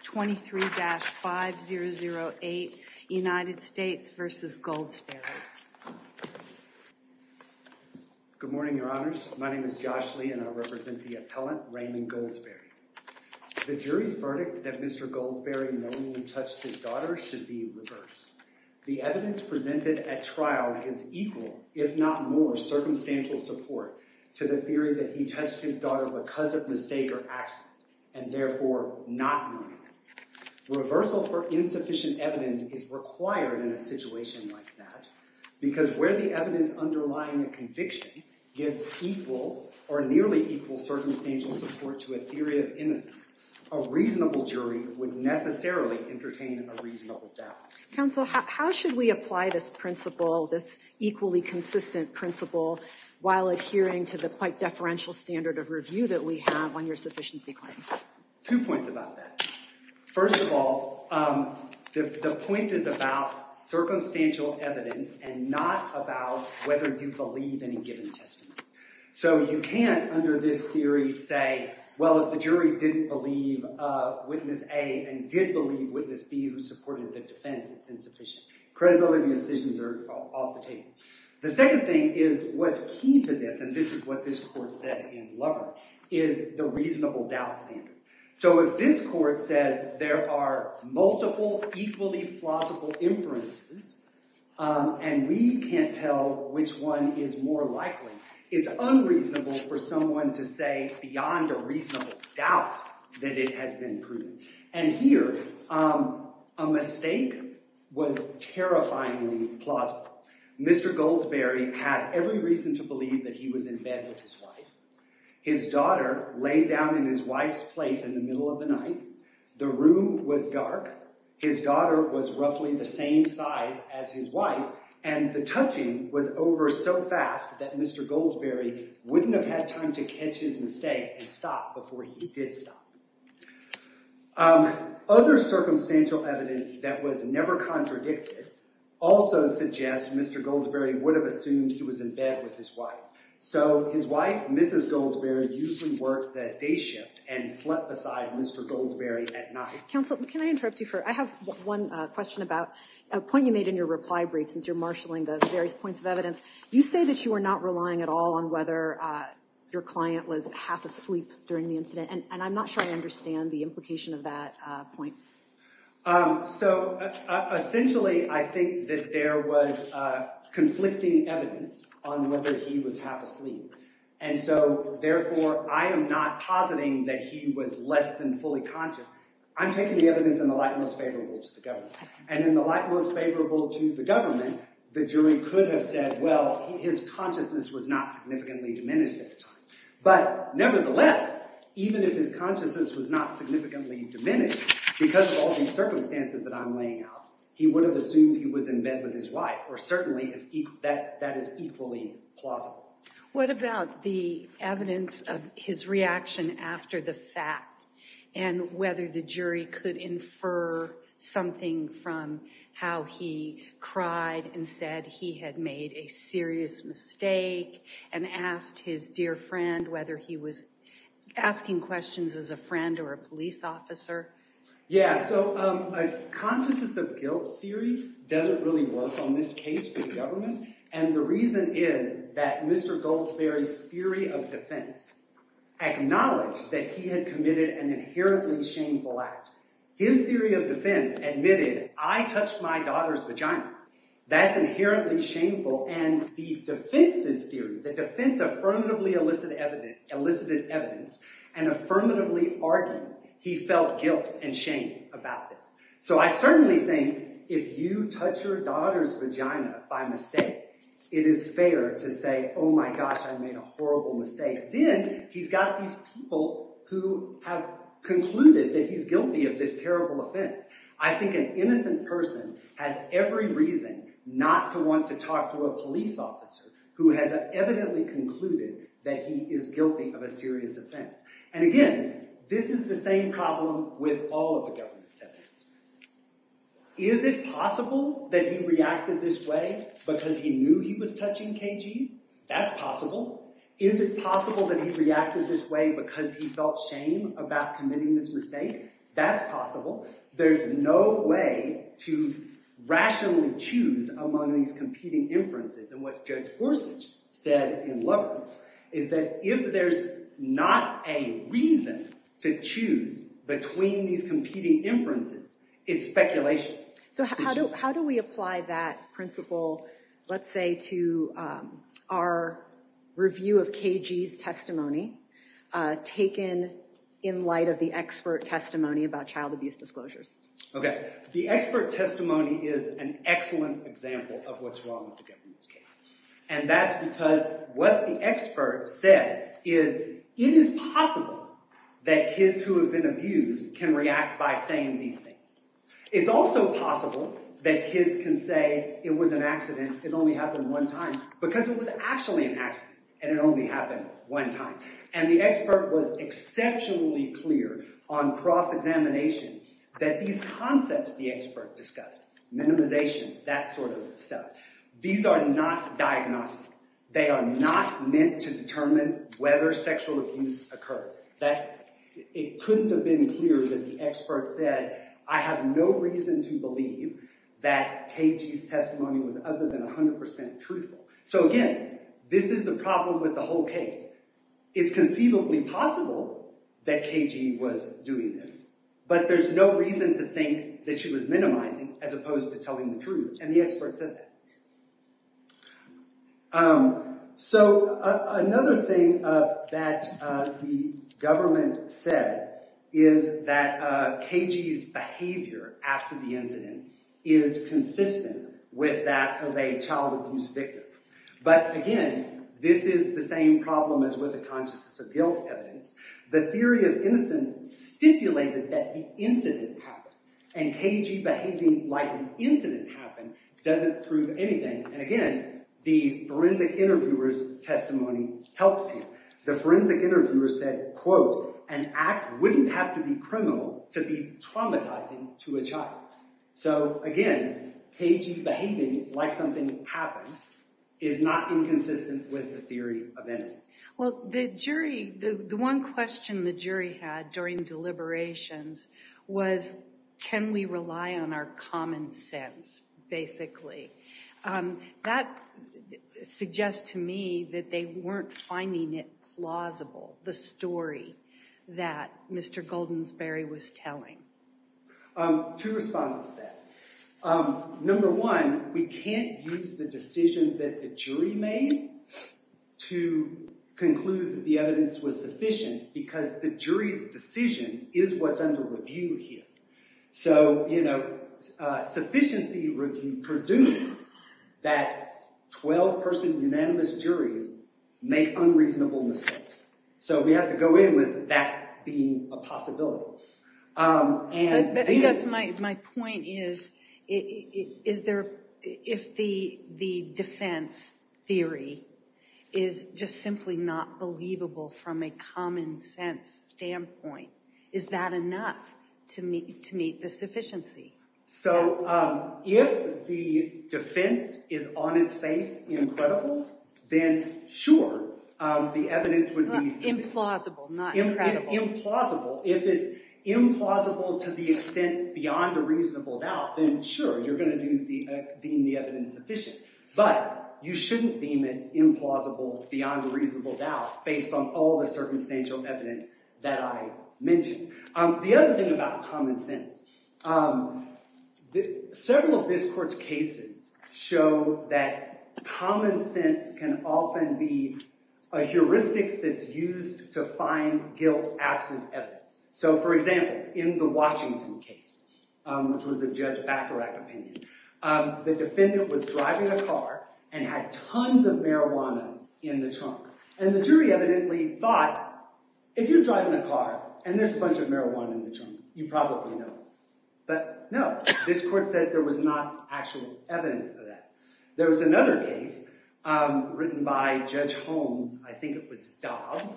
Good morning, your honors. My name is Josh Lee, and I represent the appellant Raymond Goldsberry. The jury's verdict that Mr. Goldsberry knowingly touched his daughter should be reversed. The evidence presented at trial is equal, if not more, circumstantial support to the Reversal for insufficient evidence is required in a situation like that, because where the evidence underlying a conviction gives equal or nearly equal circumstantial support to a theory of innocence, a reasonable jury would necessarily entertain a reasonable doubt. Counsel, how should we apply this principle, this equally consistent principle, while adhering to the quite deferential standard of review that we have on your sufficiency claim? Two points about that. First of all, the point is about circumstantial evidence and not about whether you believe any given testimony. So you can't, under this theory, say, well, if the jury didn't believe witness A and did believe witness B who supported the defense, it's insufficient. Credibility decisions are off the table. The second thing is what's key to this, and this is what this court said in Lover, is the reasonable doubt standard. So if this court says there are multiple equally plausible inferences and we can't tell which one is more likely, it's unreasonable for someone to say beyond a reasonable doubt that it has been proven. And here, a mistake was terrifyingly plausible. Mr. Goldsberry had every reason to believe that he was in bed with his wife. His daughter lay down in his wife's place in the middle of the night. The room was dark. His daughter was roughly the same size as his wife, and the touching was over so fast that Mr. Goldsberry wouldn't have had time to catch his breath. He did stop. Other circumstantial evidence that was never contradicted also suggests Mr. Goldsberry would have assumed he was in bed with his wife. So his wife, Mrs. Goldsberry, usually worked that day shift and slept beside Mr. Goldsberry at night. Counsel, can I interrupt you for, I have one question about a point you made in your reply brief since you're marshaling those various points of evidence. You say that you are not sure I understand the implication of that point. So essentially, I think that there was conflicting evidence on whether he was half asleep. And so therefore, I am not positing that he was less than fully conscious. I'm taking the evidence in the light most favorable to the government. And in the light most favorable to the government, the jury could have said, well, his consciousness was not significantly diminished at the time. But nevertheless, even if his consciousness was not significantly diminished because of all these circumstances that I'm laying out, he would have assumed he was in bed with his wife, or certainly that is equally plausible. What about the evidence of his reaction after the fact, and whether the jury could infer something from how he cried and said he had made a serious mistake and asked his dear friend whether he was asking questions as a friend or a police officer? Yeah, so a consciousness of guilt theory doesn't really work on this case for the government. And the reason is that Mr. Goldsberry's theory of defense acknowledged that he had committed an inherently shameful act. His theory of defense admitted, I touched my daughter's vagina. That's inherently shameful. And the defense's theory, the defense affirmatively elicited evidence and affirmatively argued, he felt guilt and shame about this. So I certainly think if you touch your daughter's vagina by mistake, it is fair to say, oh my gosh, I made a horrible mistake. Then he's got these people who have concluded that he's guilty of this terrible offense. I think an innocent person has every reason not to want to talk to a police officer who has evidently concluded that he is guilty of a serious offense. And again, this is the same problem with all of the government settings. Is it possible that he reacted this way because he knew he was guilty? Is it possible that he reacted this way because he felt shame about committing this mistake? That's possible. There's no way to rationally choose among these competing inferences. And what Judge Gorsuch said in Lubbock is that if there's not a reason to choose between these competing inferences, it's speculation. So how do we apply that principle, let's say, to our review of KG's testimony taken in light of the expert testimony about child abuse disclosures? Okay, the expert testimony is an excellent example of what's wrong with the government's case. And that's because what the expert said is it is possible that kids who have been abused can react by saying these things. It's also possible that kids can say it was an accident, it only happened one time because it was actually an accident and it only happened one time. And the expert was exceptionally clear on cross-examination that these concepts the expert discussed, minimization, that sort of stuff, these are not diagnostic. They are not meant to determine whether sexual abuse occurred. It couldn't have been clearer that the expert said, I have no reason to So again, this is the problem with the whole case. It's conceivably possible that KG was doing this, but there's no reason to think that she was minimizing as opposed to telling the truth, and the expert said that. So another thing that the government said is that KG's behavior after the incident is consistent with that of a child abuse victim. But again, this is the same problem as with the consciousness of guilt evidence. The theory of innocence stipulated that the incident happened, and KG behaving like an incident happened doesn't prove anything. And again, the forensic interviewer's testimony helps here. The forensic interviewer said, quote, an act wouldn't have to be criminal to be traumatizing to a child. So again, KG behaving like something happened is not inconsistent with the theory of innocence. Well, the jury, the one question the jury had during deliberations was, can we rely on our that Mr. Goldensberry was telling? Two responses to that. Number one, we can't use the decision that the jury made to conclude that the evidence was sufficient because the jury's decision is what's under review here. So, you know, sufficiency review presumes that 12-person unanimous juries make unreasonable mistakes. So we have to go in with that being a possibility. My point is, if the defense theory is just simply not believable from a common sense standpoint, is that enough to meet the sufficiency? So if the defense is on its face incredible, then sure, the evidence would be implausible. If it's implausible to the extent beyond a reasonable doubt, then sure, you're going to deem the evidence sufficient. But you shouldn't deem it implausible beyond a reasonable doubt based on all the circumstantial evidence that I mentioned. The other thing about common sense, several of this court's cases show that common sense can often be a heuristic that's used to find guilt-absent evidence. So for example, in the Washington case, which was a Judge Bacharach opinion, the defendant was driving a car and had tons of marijuana in the trunk. And the jury evidently thought, if you're driving a car and there's a bunch of marijuana in the trunk, you probably know it. But no, this court said there was not actual evidence of that. There was another case written by Judge Holmes, I think it was Dobbs,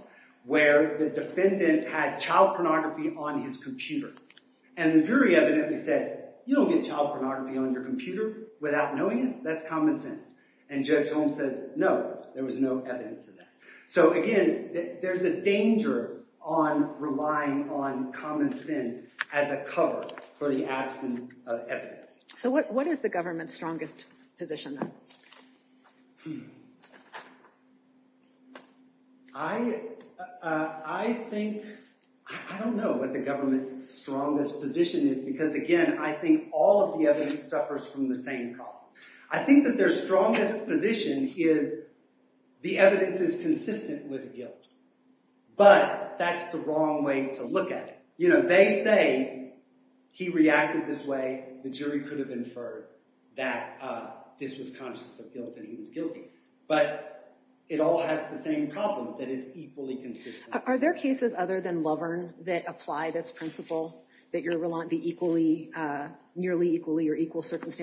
where the defendant had child pornography on his computer. And the jury evidently said, you don't get child pornography on your computer without knowing it. That's common sense. And Judge Holmes says, no, there was no evidence of that. So again, there's a danger on relying on common sense as a cover for the absence of evidence. So what is the government's strongest position then? I think, I don't know what the government's strongest position is, because again, I think all of the evidence suffers from the same problem. I think that their strongest position is the evidence is consistent with guilt. But that's the wrong way to look at it. They say he reacted this way, the jury could have inferred that this was conscious of guilt and he was guilty. But it all has the same problem, that it's equally consistent. Are there cases other than Loverne that apply this principle, that you're relying on the equally, nearly equally, or equal things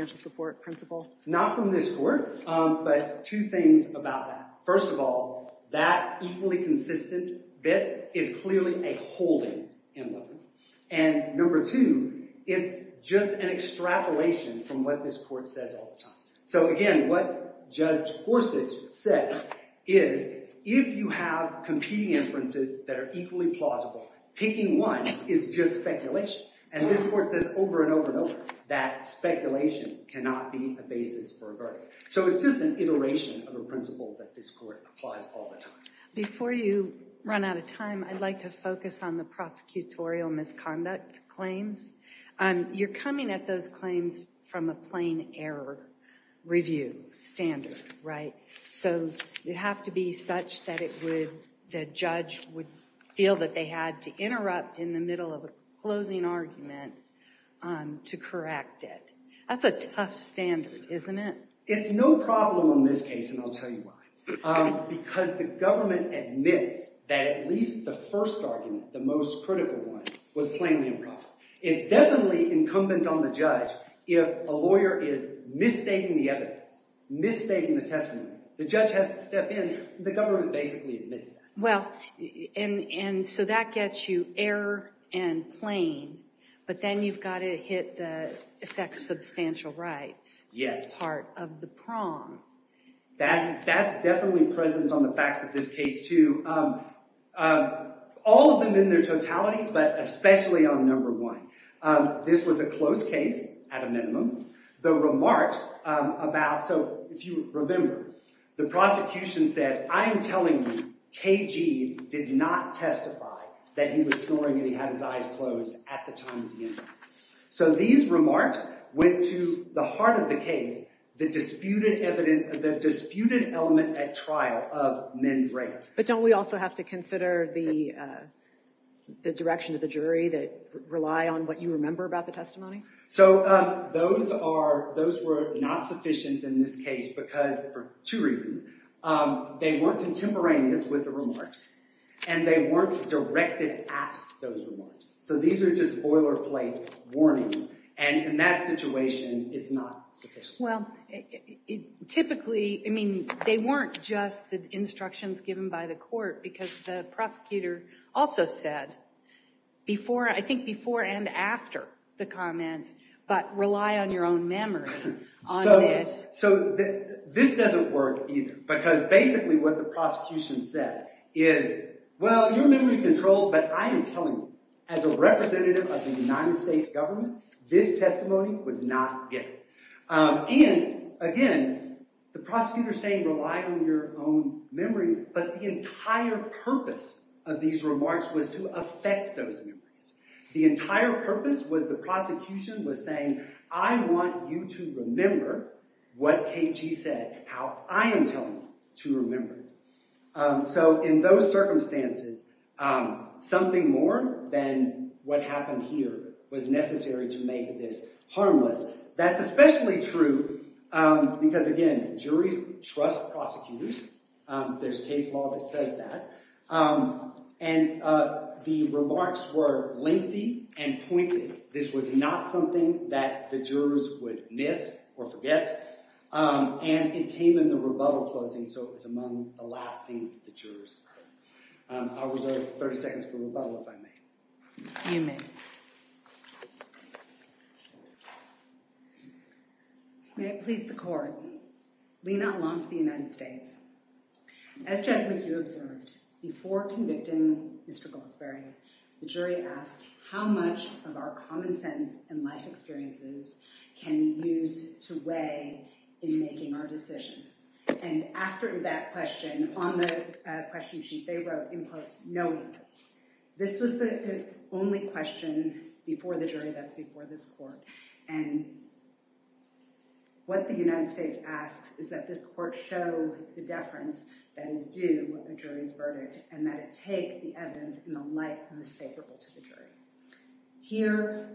about that? First of all, that equally consistent bit is clearly a holding in Loverne. And number two, it's just an extrapolation from what this court says all the time. So again, what Judge Gorsuch says is, if you have competing inferences that are equally plausible, picking one is just speculation. And this court says over and over and over that speculation cannot be a basis for a verdict. So it's just an iteration of a principle that this court applies all the time. Before you run out of time, I'd like to focus on the prosecutorial misconduct claims. You're coming at those claims from a plain error review standards, right? So you have to be such that it would, the judge would feel that they had to interrupt in the middle of a closing argument to correct it. That's a tough standard, isn't it? It's no problem in this case, and I'll tell you why. Because the government admits that at least the first argument, the most critical one, was plainly improper. It's definitely incumbent on the judge if a lawyer is misstating the evidence, misstating the testimony. The judge has to step in. The government basically admits that. Well, and so that gets you error and plain, but then you've got to hit the effects substantial rights part of the prong. That's definitely present on the facts of this case too. All of them in their totality, but especially on number one. This was a closed case at a minimum. The remarks about, so if you remember, the prosecution said, I'm telling you KG did not testify that he was snoring and he had his eyes closed at the time of the incident. So these remarks went to the heart of the case, the disputed element at trial of men's rape. But don't we also have to consider the direction of the jury that rely on what you remember about the testimony? So those were not sufficient in this case because, for two reasons, they weren't contemporaneous with the remarks and they weren't directed at those remarks. So these are just boilerplate warnings and in that situation it's not sufficient. Well, typically, I mean, they weren't just the instructions given by the court because the comments, but rely on your own memory. So this doesn't work either because basically what the prosecution said is, well, your memory controls, but I am telling you as a representative of the United States government, this testimony was not given. And again, the prosecutor saying rely on your own memories, but the entire purpose of these remarks was to affect those memories. The entire purpose was the prosecution was saying, I want you to remember what KG said, how I am telling you to remember. So in those circumstances, something more than what happened here was necessary to make this harmless. That's especially true because, again, juries trust prosecutors. There's case law that says that. And the remarks were lengthy and pointed. This was not something that the jurors would miss or forget. And it came in the rebuttal closing, so it was among the last things that the jurors heard. I'll reserve 30 seconds for Lena, along with the United States. As Jasmine, you observed before convicting Mr. Goldsberry, the jury asked how much of our common sense and life experiences can we use to weigh in making our decision? And after that question on the question sheet, they wrote in parts, knowing this was the only question before the jury that's before this court. And what the United States asks is that this court show the deference that is due a jury's verdict and that it take the evidence in the light most favorable to the jury. Here,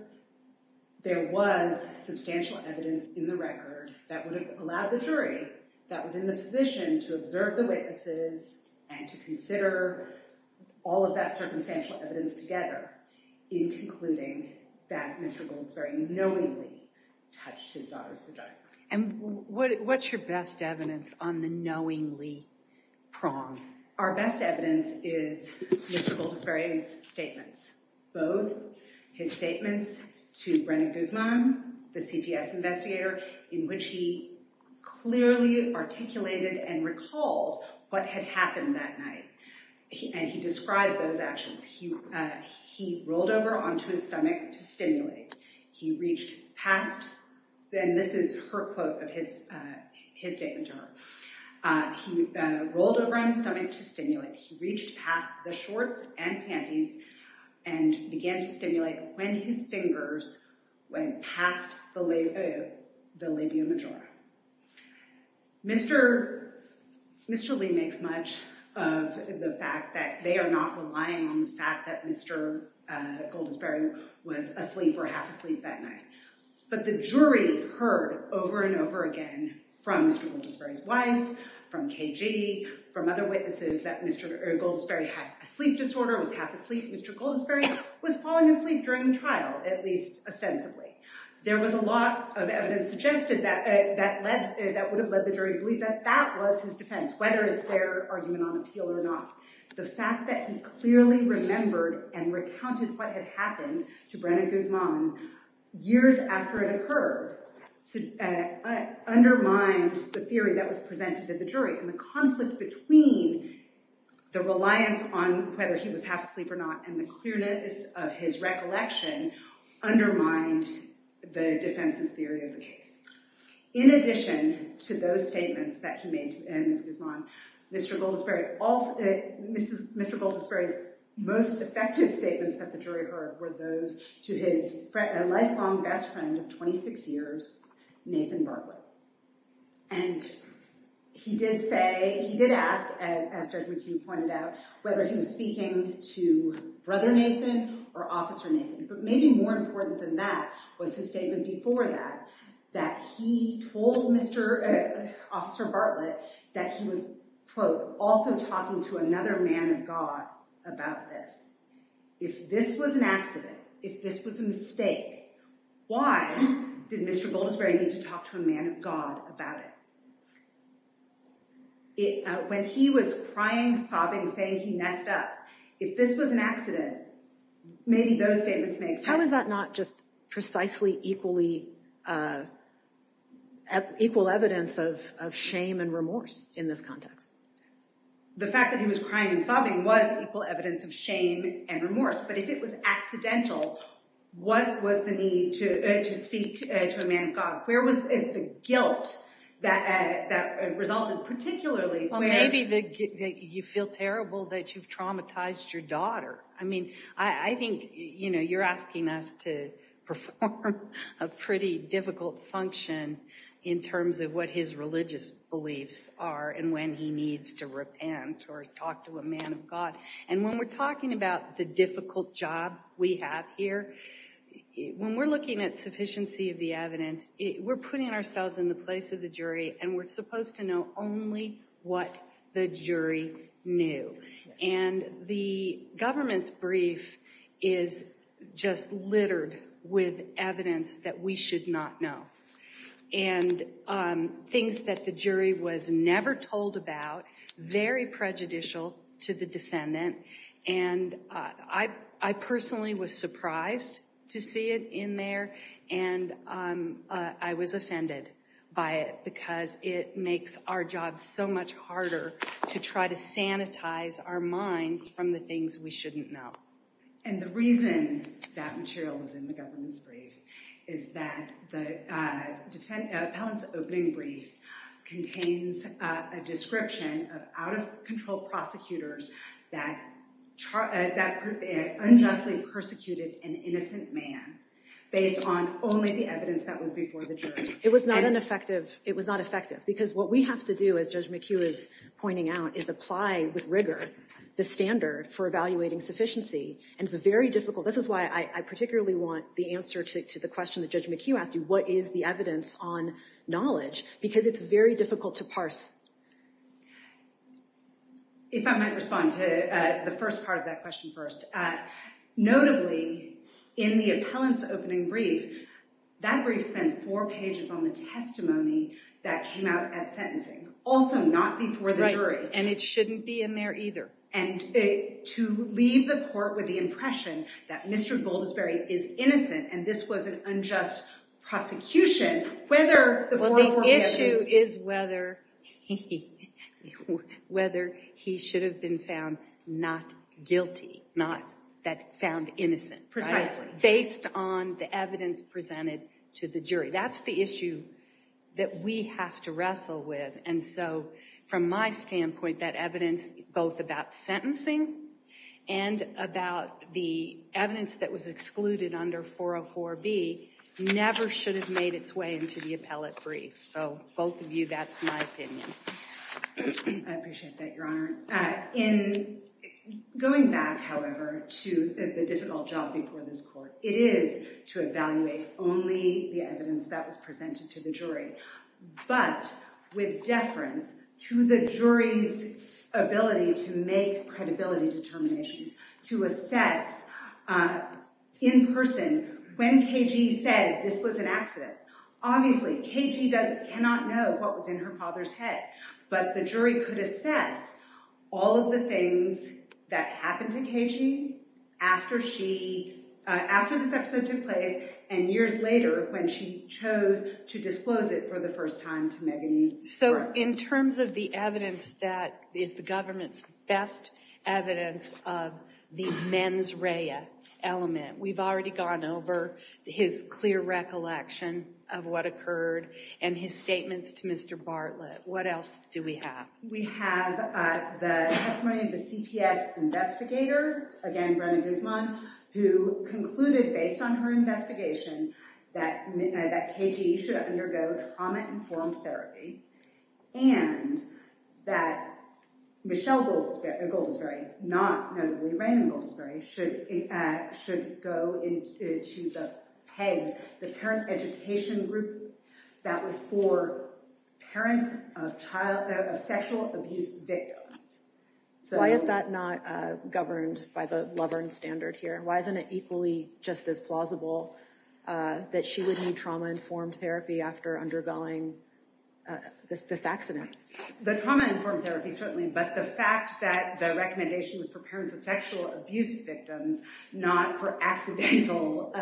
there was substantial evidence in the record that would have allowed the jury that was in the position to observe the witnesses and to consider all of that circumstantial evidence together in concluding that Mr. Goldsberry knowingly touched his daughter's vagina. And what's your best evidence on the knowingly prong? Our best evidence is Mr. Goldsberry's statements. Both his statements to Brennan Guzman, the CPS investigator, in which he clearly articulated and recalled what had happened that stimulated. He reached past, and this is her quote of his statement to her. He rolled over on his stomach to stimulate. He reached past the shorts and panties and began to stimulate when his fingers went past the labia majora. Mr. Lee makes much of the fact that they are not relying on the fact that Mr. Goldsberry was asleep or half asleep that night. But the jury heard over and over again from Mr. Goldsberry's wife, from KG, from other witnesses that Mr. Goldsberry had a sleep disorder, was half asleep. Mr. Goldsberry was falling asleep during the trial, at least ostensibly. There was a lot of evidence suggested that would have led the jury to believe that that was his defense, whether it's their argument on appeal or not. The fact that he clearly remembered and recounted what had happened to Brennan Guzman years after it occurred undermined the theory that was presented to the jury. And the conflict between the reliance on whether he was half asleep or not and the clearness of his recollection undermined the defense's theory of the case. In addition to those statements that he made to Ms. Guzman, Mr. Goldsberry's most effective statements that the jury heard were those to his lifelong best friend of 26 years, Nathan Bartlett. And he did ask, as Judge McHugh pointed out, whether he was speaking to Brother Nathan or Officer Nathan. But maybe more important than that was his statement before that, that he told Officer Bartlett that he was, quote, also talking to another man of God about this. If this was an accident, if this was a mistake, why did Mr. Goldsberry need to talk to a man of God about it? When he was crying, sobbing, saying he messed up, if this was an accident, maybe those statements make sense. How is that not just precisely equally, equal evidence of shame and remorse in this context? The fact that he was crying and sobbing was equal evidence of shame and remorse. But if it was accidental, what was the need to speak to a man of God? Where was the guilt that resulted, particularly? Well, maybe you feel terrible that you've traumatized your daughter. I mean, I think, you know, you're asking us to perform a pretty difficult function in terms of what his religious beliefs are and when he needs to repent or talk to a man of God. And when we're talking about the evidence, we're putting ourselves in the place of the jury and we're supposed to know only what the jury knew. And the government's brief is just littered with evidence that we should not know. And things that the jury was never told about, very prejudicial to the defendant. And I personally was surprised to see it in there. And I was offended by it because it makes our job so much harder to try to sanitize our minds from the things we shouldn't know. And the reason that material was in the government's brief is that the unjustly persecuted an innocent man based on only the evidence that was before the jury. It was not effective. It was not effective because what we have to do, as Judge McHugh is pointing out, is apply with rigor the standard for evaluating sufficiency. And it's very difficult. This is why I particularly want the answer to the question that Judge McHugh asked you, what is the evidence on knowledge? Because it's very difficult to parse. If I might respond to the first part of that question first. Notably in the appellant's opening brief, that brief spends four pages on the testimony that came out at sentencing. Also not before the jury. And it shouldn't be in there either. And to leave the court with the impression that Mr. Goldisberry is innocent and this was an unjust prosecution, whether the 404 evidence... The issue is whether he should have been found not guilty, not found innocent. Precisely. Based on the evidence presented to the jury. That's the issue that we have to wrestle with. And so from my standpoint, that evidence both about sentencing and about the evidence that 404B never should have made its way into the appellate brief. So both of you, that's my opinion. I appreciate that, Your Honor. In going back, however, to the difficult job before this court, it is to evaluate only the evidence that was presented to the jury. But with deference to the jury's ability to make credibility determinations, to assess in person when KG said this was an accident. Obviously, KG cannot know what was in her father's head, but the jury could assess all of the things that happened to KG after this episode took place and years later when she chose to disclose it for the first time to Megan Yee. So in terms of the evidence that is the government's best evidence of the mens rea element, we've already gone over his clear recollection of what occurred and his statements to Mr. Bartlett. What else do we have? We have the testimony of the CPS investigator, again, Brenna Guzman, who concluded based on her investigation that KG should undergo trauma informed therapy and that Michelle Goldisberry, not notably Raymond Goldisberry, should go into the PEGS, the parent education group that was for parents of sexual abuse victims. So why is that not governed by the Lovern standard here? Why isn't it equally just as plausible that she would need trauma informed therapy after undergoing this accident? The trauma informed therapy, certainly, but the fact that the recommendation was for parents of sexual abuse victims, not for accidental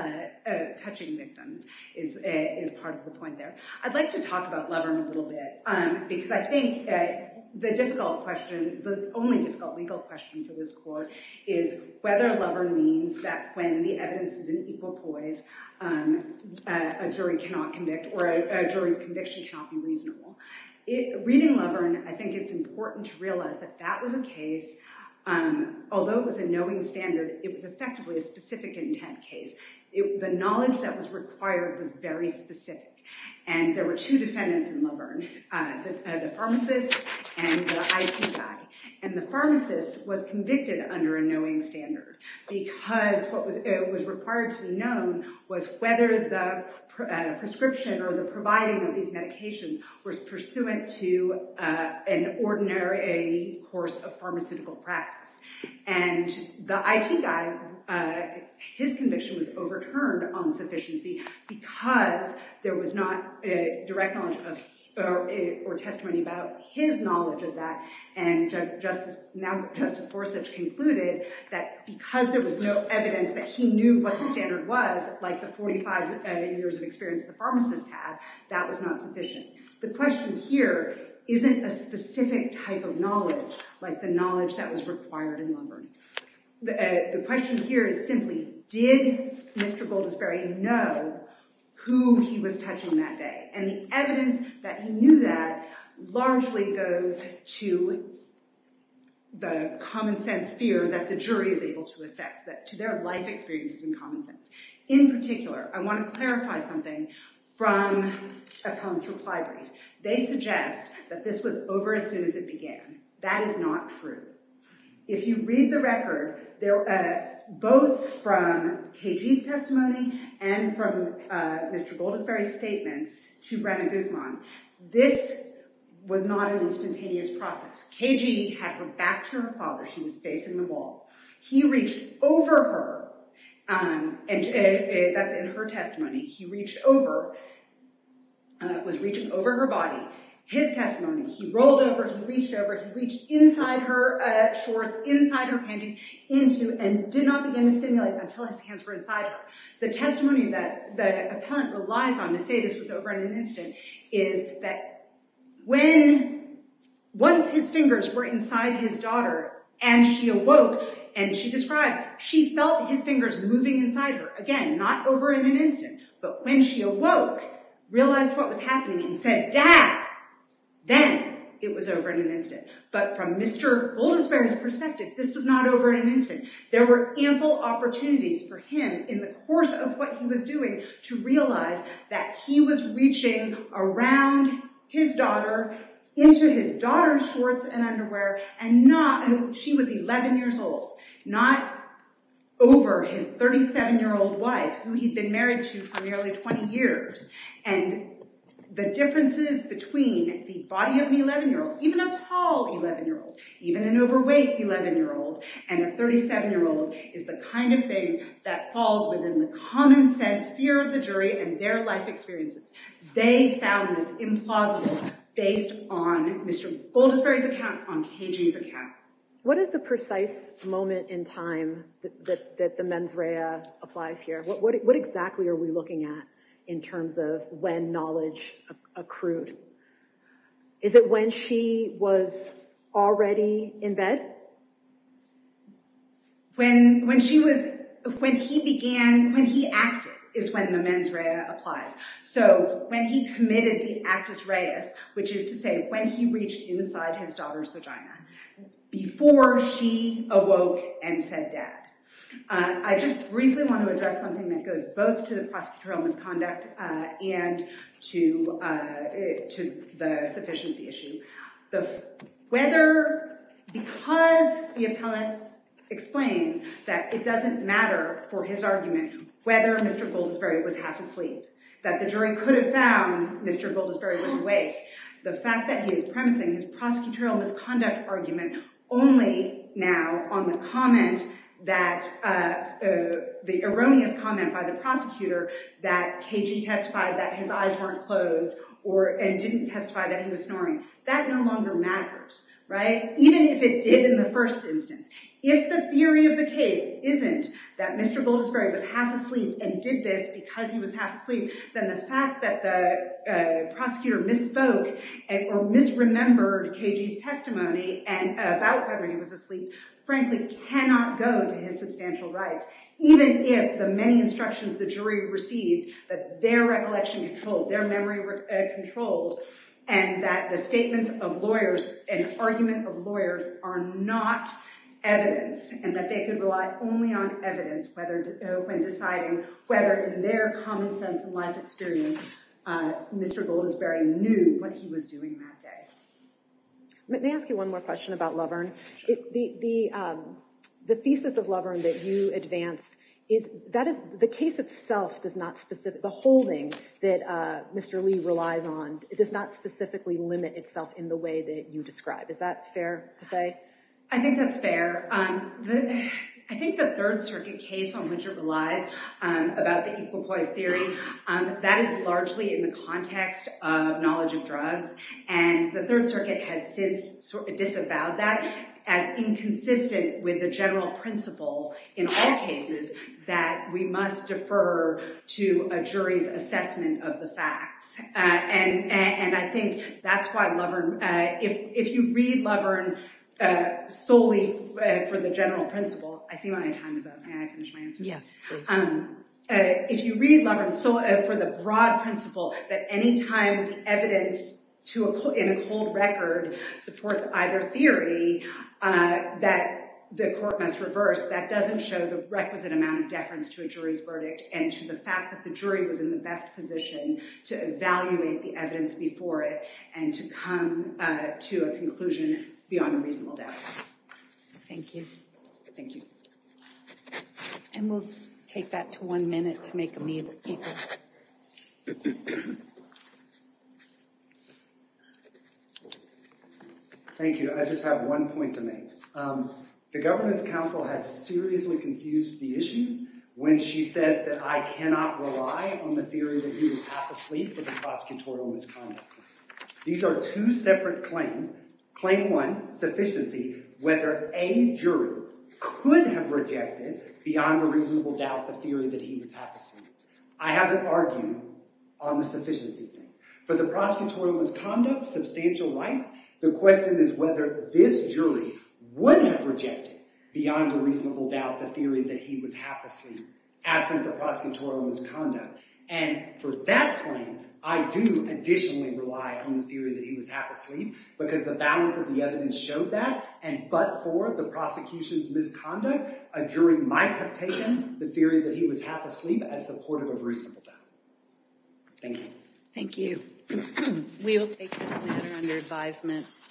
touching victims is part of the point there. I'd like to talk about Lovern a little bit because I think the difficult question, the only difficult legal question for this court is whether Lovern means that when the evidence is in equal poise, a jury cannot convict or a jury's conviction cannot be reasonable. Reading Lovern, I think it's important to realize that that was a case, although it was a knowing standard, it was effectively a specific intent case. The knowledge that was required was very specific and there were two defendants in Lovern, the pharmacist and the IT guy. And the pharmacist was convicted under a knowing standard because what was required to be known was whether the prescription or the providing of these medications was pursuant to an ordinary course of pharmaceutical practice. And the IT guy, his conviction was overturned on sufficiency because there was not a direct knowledge or testimony about his knowledge of that. And now Justice Gorsuch concluded that because there was no evidence that he knew what the standard was, like the 45 years of experience the pharmacist had, that was not sufficient. The question here isn't a specific type of knowledge, like the knowledge that was required in Lovern. The question here is simply, did Mr. Goldisberry know who he was touching that day? And the evidence that he knew that largely goes to the common sense fear that the jury is able to assess, that to their life experiences in common sense. In particular, I want to clarify something from Appellant's that is not true. If you read the record, both from KG's testimony and from Mr. Goldisberry's statements to Brenna Guzman, this was not an instantaneous process. KG had her back to her father. She was facing the wall. He reached over her, and that's in her testimony. He reached over, and that was reaching over her body. His testimony, he rolled over, he reached over, he reached inside her shorts, inside her panties, into, and did not begin to stimulate until his hands were inside her. The testimony that the Appellant relies on to say this was over in an instant is that once his fingers were inside his daughter, and she awoke, and she described, she felt his fingers moving inside her. Again, not over in an instant, but when she awoke, realized what was happening and said, Dad, then it was over in an instant. But from Mr. Goldisberry's perspective, this was not over in an instant. There were ample opportunities for him in the course of what he was doing to realize that he was reaching around his daughter into his daughter's shorts and underwear, and she was 11 years old, not over his 37-year-old wife, who he'd been married to for nearly 20 years. The differences between the body of an 11-year-old, even a tall 11-year-old, even an overweight 11-year-old, and a 37-year-old is the kind of thing that falls within the plausible based on Mr. Goldisberry's account, on KJ's account. What is the precise moment in time that the mens rea applies here? What exactly are we looking at in terms of when knowledge accrued? Is it when she was already in bed? When he acted is when the mens rea applies. When he committed the actus reus, which is to say, when he reached inside his daughter's vagina, before she awoke and said, Dad. I just briefly want to address something that goes both to the prosecutorial misconduct and to the sufficiency issue. Because the appellant explains that it doesn't matter for his argument whether Mr. Goldisberry was half asleep, that the jury could have found Mr. Goldisberry was awake, the fact that he is premising his prosecutorial misconduct argument only now on the erroneous comment by the prosecutor that KJ testified that his eyes weren't closed and didn't testify that he was snoring, that no longer matters. Even if it did in the first instance, if the theory of the case isn't that Mr. Goldisberry was half asleep and did this because he was half asleep, then the fact that the was asleep frankly cannot go to his substantial rights. Even if the many instructions the jury received that their recollection controlled, their memory controlled, and that the statements of lawyers and argument of lawyers are not evidence and that they could rely only on evidence when deciding whether in their common sense and life experience, Mr. Goldisberry knew what he was doing that day. Let me ask you one more question about Loverne. The thesis of Loverne that you advanced, the case itself does not specifically, the holding that Mr. Lee relies on, it does not specifically limit itself in the way that you describe. Is that fair to say? I think that's fair. I think the Third Circuit case on which it relies about the equal poise theory, that is largely in the context of knowledge of drugs. The Third Circuit has since disavowed that as inconsistent with the general principle in all cases that we must defer to a jury's assessment of the facts. I think that's why Loverne, if you read Loverne solely for the general principle, I think my time is up. May I finish my answer? Yes. If you read Loverne for the broad principle that anytime evidence in a cold record supports either theory that the court must reverse, that doesn't show the requisite amount of deference to a jury's verdict and to the fact that the jury was in the best position to evaluate the evidence before it and to come to a conclusion beyond a reasonable doubt. Thank you. Thank you. And we'll take that to one minute to make a move. Thank you. I just have one point to make. The government's counsel has seriously confused the issues when she says that I cannot rely on the theory that he was half asleep for the prosecutorial misconduct. These are two separate claims. Claim one, sufficiency, whether a jury could have rejected beyond a reasonable doubt the theory that he was half asleep. I haven't argued on the sufficiency thing. For the prosecutorial misconduct, substantial rights, the question is whether this jury would have rejected beyond a reasonable doubt the theory that he was half asleep absent the prosecutorial misconduct. And for that claim, I do additionally rely on the theory that he was half asleep because the balance of the evidence showed that, and but for the prosecution's misconduct, a jury might have taken the theory that he was half asleep as supportive of reasonable doubt. Thank you. Thank you. We'll take this matter under advisement.